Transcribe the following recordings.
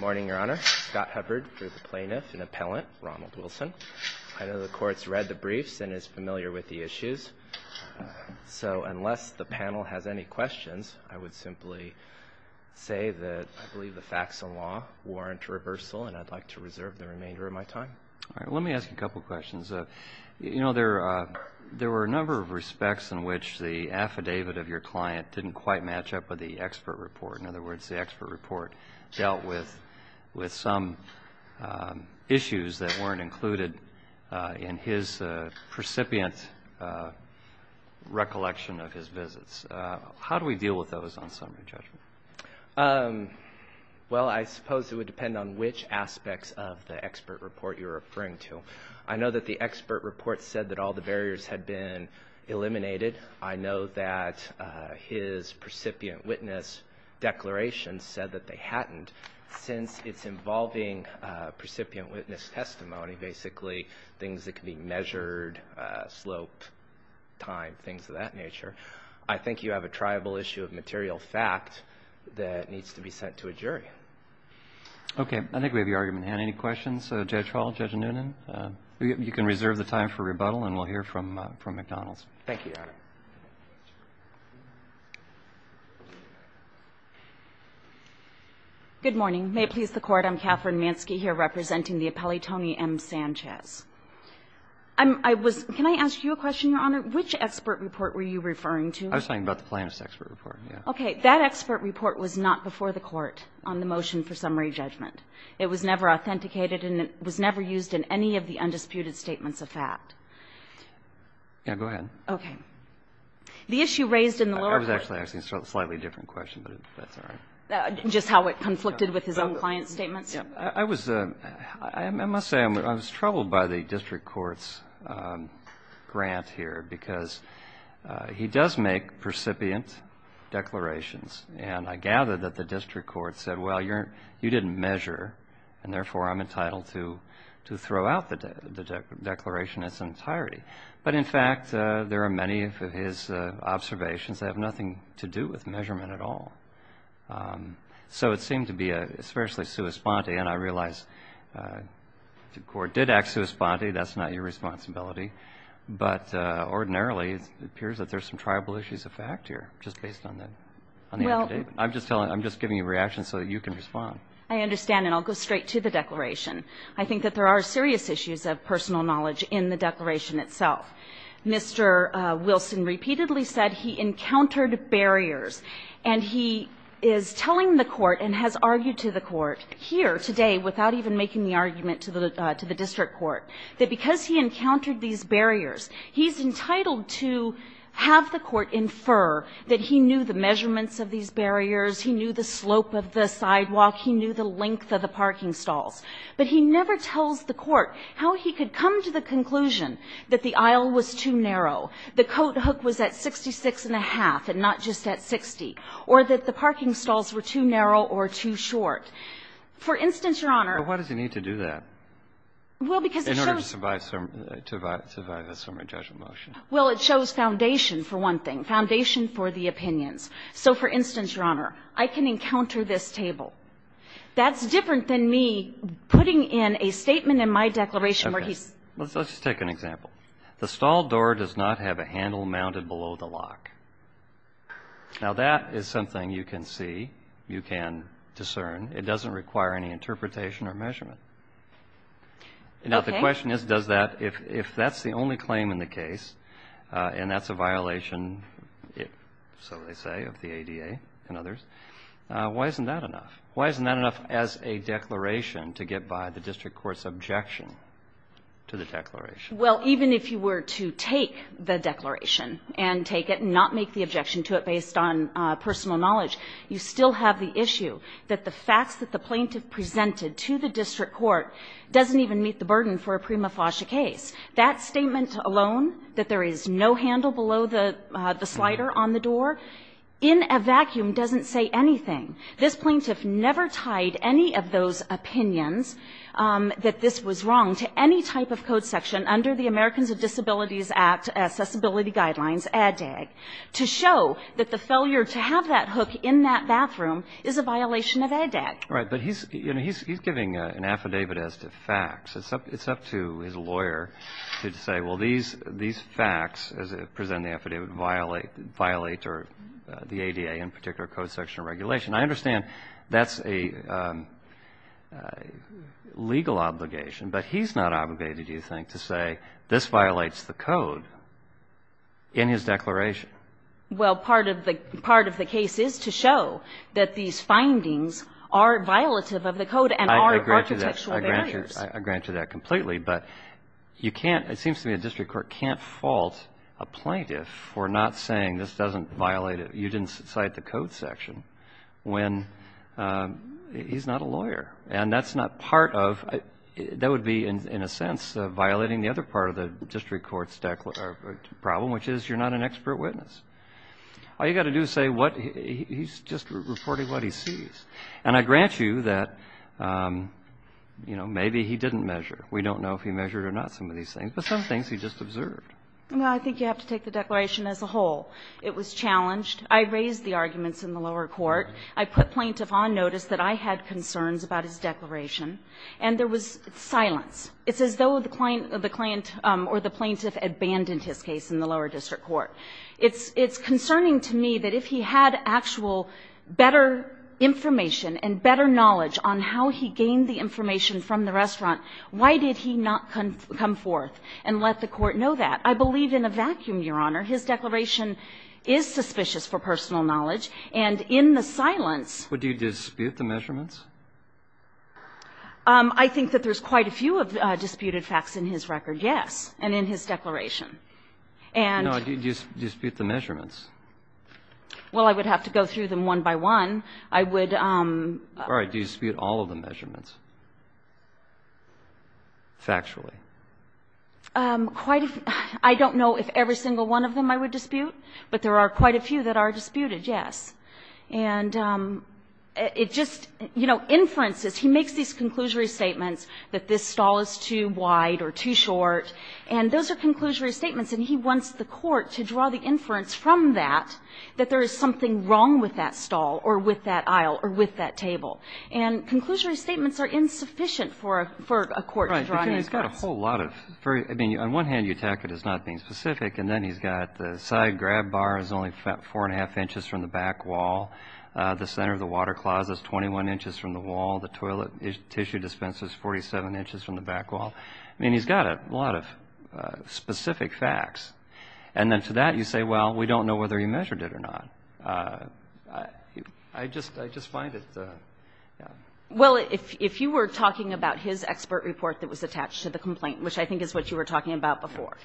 know the Court's read the briefs and is familiar with the issues, so unless the panel has any questions, I would simply say that I believe the facts of law warrant reversal, and I'd like to reserve the remainder of my time. Let me ask a couple questions. You know, there were a number of respects in which the affidavit of your client didn't quite match up with the expert report. In other words, the expert report dealt with some issues that weren't included in his precipient recollection of his visits. How do we deal with those on summary judgment? Well, I suppose it would depend on which aspects of the expert report you're referring to. I know that the expert report said that all the barriers had been eliminated. I know that his precipient witness declaration said that they hadn't. Since it's involving precipient witness testimony, basically things that can be measured, slope, time, things of that nature, I think you have a triable issue of material fact. That needs to be sent to a jury. Okay. I think we have your argument at hand. Any questions, Judge Hall, Judge Noonan? You can reserve the time for rebuttal, and we'll hear from McDonald's. Thank you, Your Honor. Good morning. May it please the Court, I'm Katherine Manske here representing the appellee Tony M. Sanchez. Can I ask you a question, Your Honor? Which expert report were you referring to? I was talking about the plaintiff's expert report, yeah. Okay. That expert report was not before the Court on the motion for summary judgment. It was never authenticated, and it was never used in any of the undisputed statements of fact. Yeah, go ahead. Okay. The issue raised in the lower court. I was actually asking a slightly different question, but that's all right. Just how it conflicted with his own client's statements? I must say I was troubled by the district court's grant here, because he does make precipient declarations. And I gather that the district court said, well, you didn't measure, and therefore I'm entitled to throw out the declaration in its entirety. But, in fact, there are many of his observations that have nothing to do with measurement at all. So it seemed to be a fiercely sua sponte, and I realize the court did act sua sponte. That's not your responsibility. But ordinarily, it appears that there's some tribal issues of fact here, just based on that. I'm just giving you a reaction so that you can respond. I understand, and I'll go straight to the declaration. I think that there are serious issues of personal knowledge in the declaration itself. Mr. Wilson repeatedly said he encountered barriers. And he is telling the court and has argued to the court here today, without even making the argument to the district court, that because he encountered these barriers, he's entitled to have the court infer that he knew the measurements of these barriers, he knew the slope of the sidewalk, he knew the length of the parking stalls. But he never tells the court how he could come to the conclusion that the aisle was too narrow, the coat hook was at 66-and-a-half and not just at 60, or that the parking stalls were too narrow or too short. For instance, Your Honor --" But why does he need to do that? Well, because it shows --" In order to survive a summary judgment motion. Well, it shows foundation, for one thing, foundation for the opinions. So, for instance, Your Honor, I can encounter this table. That's different than me putting in a statement in my declaration where he's --" Okay. Let's just take an example. The stall door does not have a handle mounted below the lock. Now, that is something you can see, you can discern. It doesn't require any interpretation or measurement. Okay. Now, the question is, does that, if that's the only claim in the case, and that's a violation, so they say, of the ADA and others, why isn't that enough? Why isn't that enough as a declaration to get by the district court's objection to the declaration? Well, even if you were to take the declaration and take it and not make the objection to it based on personal knowledge, you still have the issue that the facts that the plaintiff presented to the district court doesn't even meet the burden for a prima facie case. That statement alone, that there is no handle below the slider on the door, in a vacuum doesn't say anything. This plaintiff never tied any of those opinions that this was wrong to any type of code section under the Americans with Disabilities Act accessibility guidelines, ADDAG, to show that the failure to have that hook in that bathroom is a violation of ADDAG. Right. But he's, you know, he's giving an affidavit as to facts. It's up to his lawyer to say, well, these facts, as presented in the affidavit, violate or the ADA in particular code section regulation. I understand that's a legal obligation, but he's not obligated, do you think, to say this violates the code in his declaration? Well, part of the case is to show that these findings are violative of the code and are architectural barriers. I grant you that. I grant you that completely. But you can't, it seems to me the district court can't fault a plaintiff for not saying this doesn't violate it, you didn't cite the code section, when he's not a lawyer. And that's not part of, that would be in a sense violating the other part of the district court's problem, which is you're not an expert witness. All you've got to do is say what, he's just reporting what he sees. And I grant you that, you know, maybe he didn't measure. We don't know if he measured or not some of these things. But some things he just observed. Well, I think you have to take the declaration as a whole. It was challenged. I raised the arguments in the lower court. I put plaintiff on notice that I had concerns about his declaration. And there was silence. It's as though the client or the plaintiff abandoned his case in the lower district court. It's concerning to me that if he had actual better information and better knowledge on how he gained the information from the restaurant, why did he not come forth and let the court know that? I believe in a vacuum, Your Honor. His declaration is suspicious for personal knowledge. And in the silence ---- Would you dispute the measurements? I think that there's quite a few disputed facts in his record, yes, and in his declaration. And ---- No. Do you dispute the measurements? Well, I would have to go through them one by one. I would ---- All right. Do you dispute all of the measurements, factually? Quite a few. I don't know if every single one of them I would dispute. But there are quite a few that are disputed, yes. And it just, you know, inferences. He makes these conclusory statements that this stall is too wide or too short. And those are conclusory statements. And he wants the court to draw the inference from that that there is something wrong with that stall or with that aisle or with that table. And conclusory statements are insufficient for a court to draw an inference. Right, because he's got a whole lot of very ---- I mean, on one hand, you attack it as not being specific, and then he's got the side grab bar is only 4-1⁄2 inches from the back wall, the center of the water closet is 21 inches from the wall, the toilet tissue dispenser is 47 inches from the back wall. I mean, he's got a lot of specific facts. And then to that you say, well, we don't know whether he measured it or not. I just find it, you know. Well, if you were talking about his expert report that was attached to the complaint, which I think is what you were talking about before,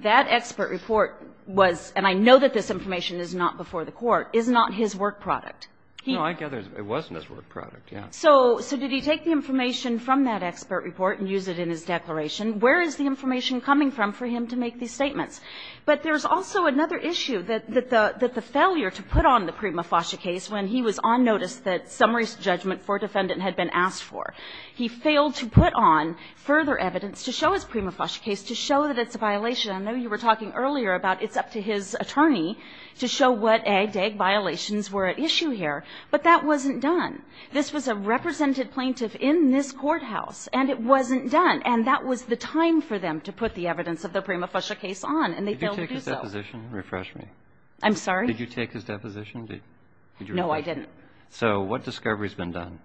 that expert report was, and I know that this information is not before the court, is not his work product. No, I gather it wasn't his work product, yes. So did he take the information from that expert report and use it in his declaration? Where is the information coming from for him to make these statements? But there's also another issue, that the failure to put on the prima facie case when he was on notice that summary judgment for defendant had been asked for. He failed to put on further evidence to show his prima facie case, to show that it's a violation. I know you were talking earlier about it's up to his attorney to show what ag-to-ag violations were at issue here. But that wasn't done. This was a represented plaintiff in this courthouse, and it wasn't done. And that was the time for them to put the evidence of the prima facie case on, and they failed to do so. Did you take his deposition? Refresh me. I'm sorry? Did you take his deposition? No, I didn't. So what discovery has been done?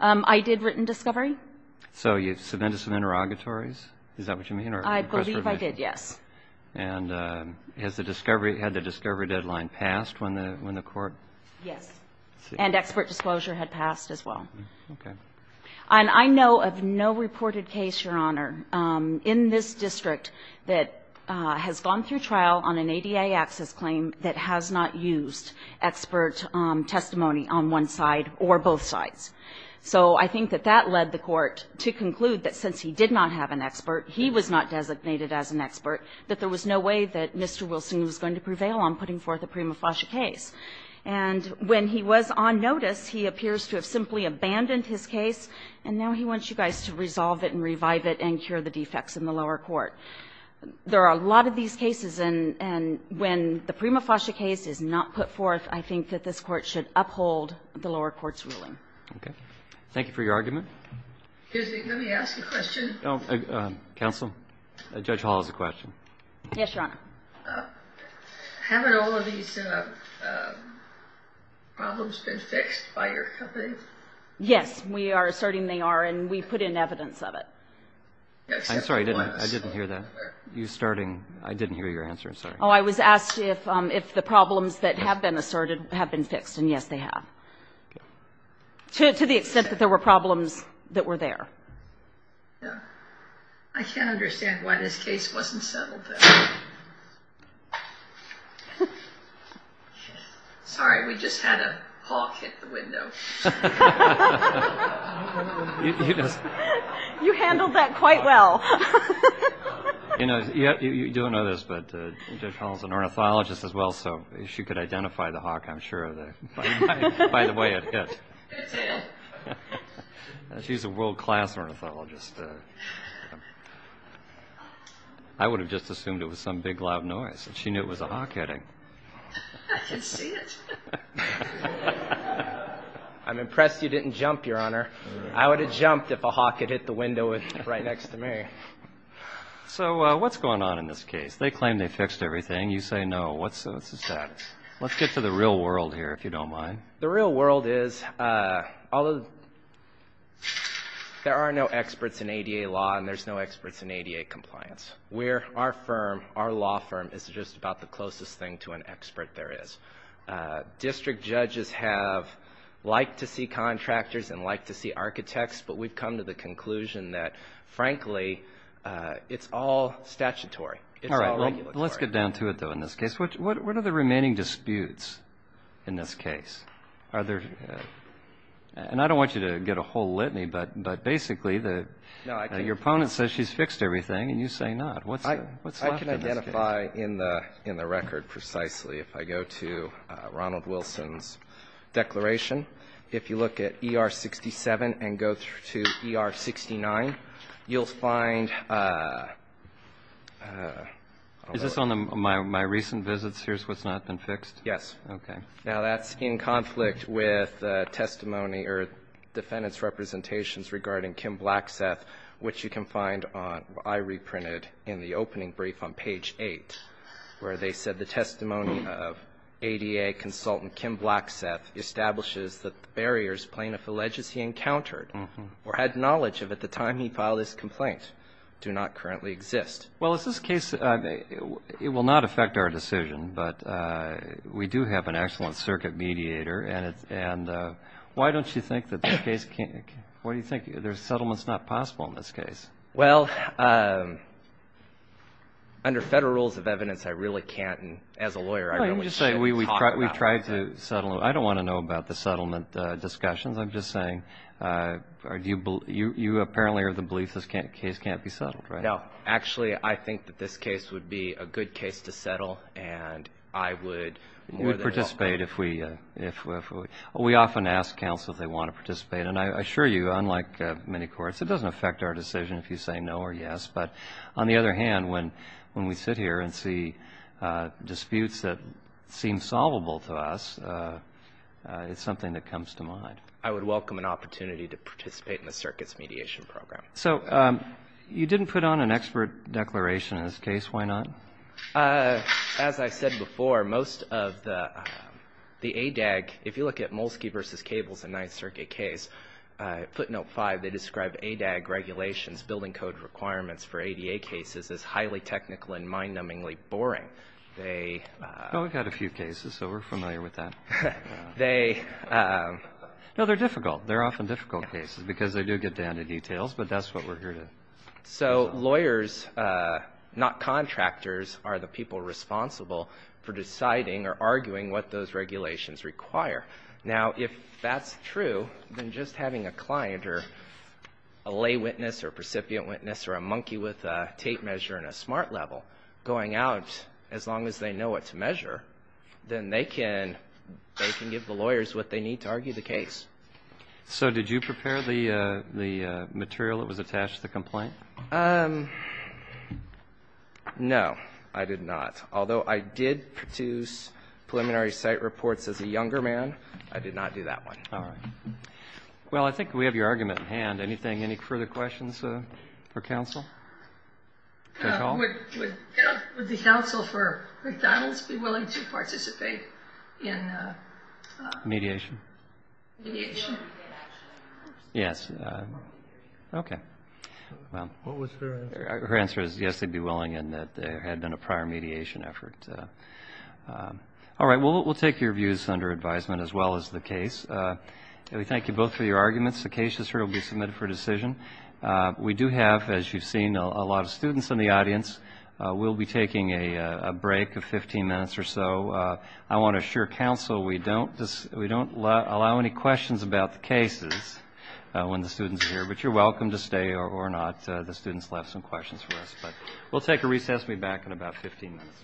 I did written discovery. So you submitted some interrogatories? Is that what you mean? I believe I did, yes. And has the discovery, had the discovery deadline passed when the court? Yes. And expert disclosure had passed as well. Okay. And I know of no reported case, Your Honor, in this district that has gone through trial on an ADA access claim that has not used expert testimony on one side or both sides. So I think that that led the court to conclude that since he did not have an expert, he was not designated as an expert, that there was no way that Mr. Wilson was going to prevail on putting forth a prima facie case. And when he was on notice, he appears to have simply abandoned his case, and now he wants you guys to resolve it and revive it and cure the defects in the lower court. There are a lot of these cases, and when the prima facie case is not put forth, I think that this court should uphold the lower court's ruling. Okay. Thank you for your argument. Excuse me. Let me ask a question. Counsel, Judge Hall has a question. Yes, Your Honor. Haven't all of these problems been fixed by your company? Yes. We are asserting they are, and we put in evidence of it. I'm sorry. I didn't hear that. You starting. I didn't hear your answer. Sorry. Oh, I was asked if the problems that have been asserted have been fixed, and, yes, they have, to the extent that there were problems that were there. Yeah. I can't understand why this case wasn't settled, though. Sorry. We just had a hawk hit the window. You handled that quite well. You know, you don't know this, but Judge Hall is an ornithologist as well, so she could identify the hawk, I'm sure, by the way it hit. It did. She's a world-class ornithologist. I would have just assumed it was some big, loud noise. She knew it was a hawk hitting. I can see it. I'm impressed you didn't jump, Your Honor. I would have jumped if a hawk had hit the window right next to me. So what's going on in this case? They claim they fixed everything. You say no. What's the status? Let's get to the real world here, if you don't mind. The real world is there are no experts in ADA law, and there's no experts in ADA compliance. Our firm, our law firm, is just about the closest thing to an expert there is. District judges like to see contractors and like to see architects, but we've come to the conclusion that, frankly, it's all statutory. It's all regulatory. All right. Let's get down to it, though, in this case. What are the remaining disputes in this case? Are there ñ and I don't want you to get a whole litany, but basically your opponent says she's fixed everything, and you say not. What's left in this case? I can identify in the record precisely. If I go to Ronald Wilson's declaration, if you look at ER 67 and go to ER 69, you'll find ñ Is this on my recent visits? Here's what's not been fixed? Yes. Okay. Now, that's in conflict with testimony or defendant's representations regarding Kim Blackseth, which you can find on ñ I reprinted in the opening brief on page 8, where they said the testimony of ADA consultant Kim Blackseth establishes that the barriers plaintiff alleges he encountered or had knowledge of at the time he filed this complaint do not currently exist. Well, is this case ñ it will not affect our decision, but we do have an excellent circuit mediator, and why don't you think that this case can't ñ why do you think there's settlements not possible in this case? Well, under federal rules of evidence, I really can't. And as a lawyer, I really shouldn't talk about it. Well, let me just say we've tried to settle it. I don't want to know about the settlement discussions. I'm just saying you apparently are of the belief this case can't be settled, right? No. Actually, I think that this case would be a good case to settle, and I would more than help. You would participate if we ñ we often ask counsel if they want to participate. And I assure you, unlike many courts, it doesn't affect our decision if you say no or yes. But on the other hand, when we sit here and see disputes that seem solvable to us, it's something that comes to mind. I would welcome an opportunity to participate in the circuits mediation program. So you didn't put on an expert declaration in this case. Why not? As I said before, most of the ADAG ñ if you look at Molsky v. Cables, a Ninth Circuit case, footnote five, they describe ADAG regulations, building code requirements for ADA cases as highly technical and mind-numbingly boring. They ñ Well, we've got a few cases, so we're familiar with that. They ñ No, they're difficult. They're often difficult cases because they do get down to details, but that's what we're here to do. So lawyers, not contractors, are the people responsible for deciding or arguing what those regulations require. Now, if that's true, then just having a client or a lay witness or a recipient witness or a monkey with a tape measure and a smart level going out, as long as they know what to measure, then they can give the lawyers what they need to argue the case. So did you prepare the material that was attached to the complaint? No, I did not. Although I did produce preliminary site reports as a younger man, I did not do that one. All right. Well, I think we have your argument in hand. Anything ñ any further questions for counsel? Judge Hall? Would the counsel for McDonald's be willing to participate in the ñ Mediation? Mediation. Yes. Okay. Well. What was her answer? Her answer is yes, they'd be willing in that there had been a prior mediation effort. All right. Well, we'll take your views under advisement as well as the case. We thank you both for your arguments. The case is here. It will be submitted for decision. We do have, as you've seen, a lot of students in the audience. We'll be taking a break of 15 minutes or so. I want to assure counsel we don't allow any questions about the cases when the students are here. But you're welcome to stay or not. The students left some questions for us. But we'll take a recess. We'll be back in about 15 minutes.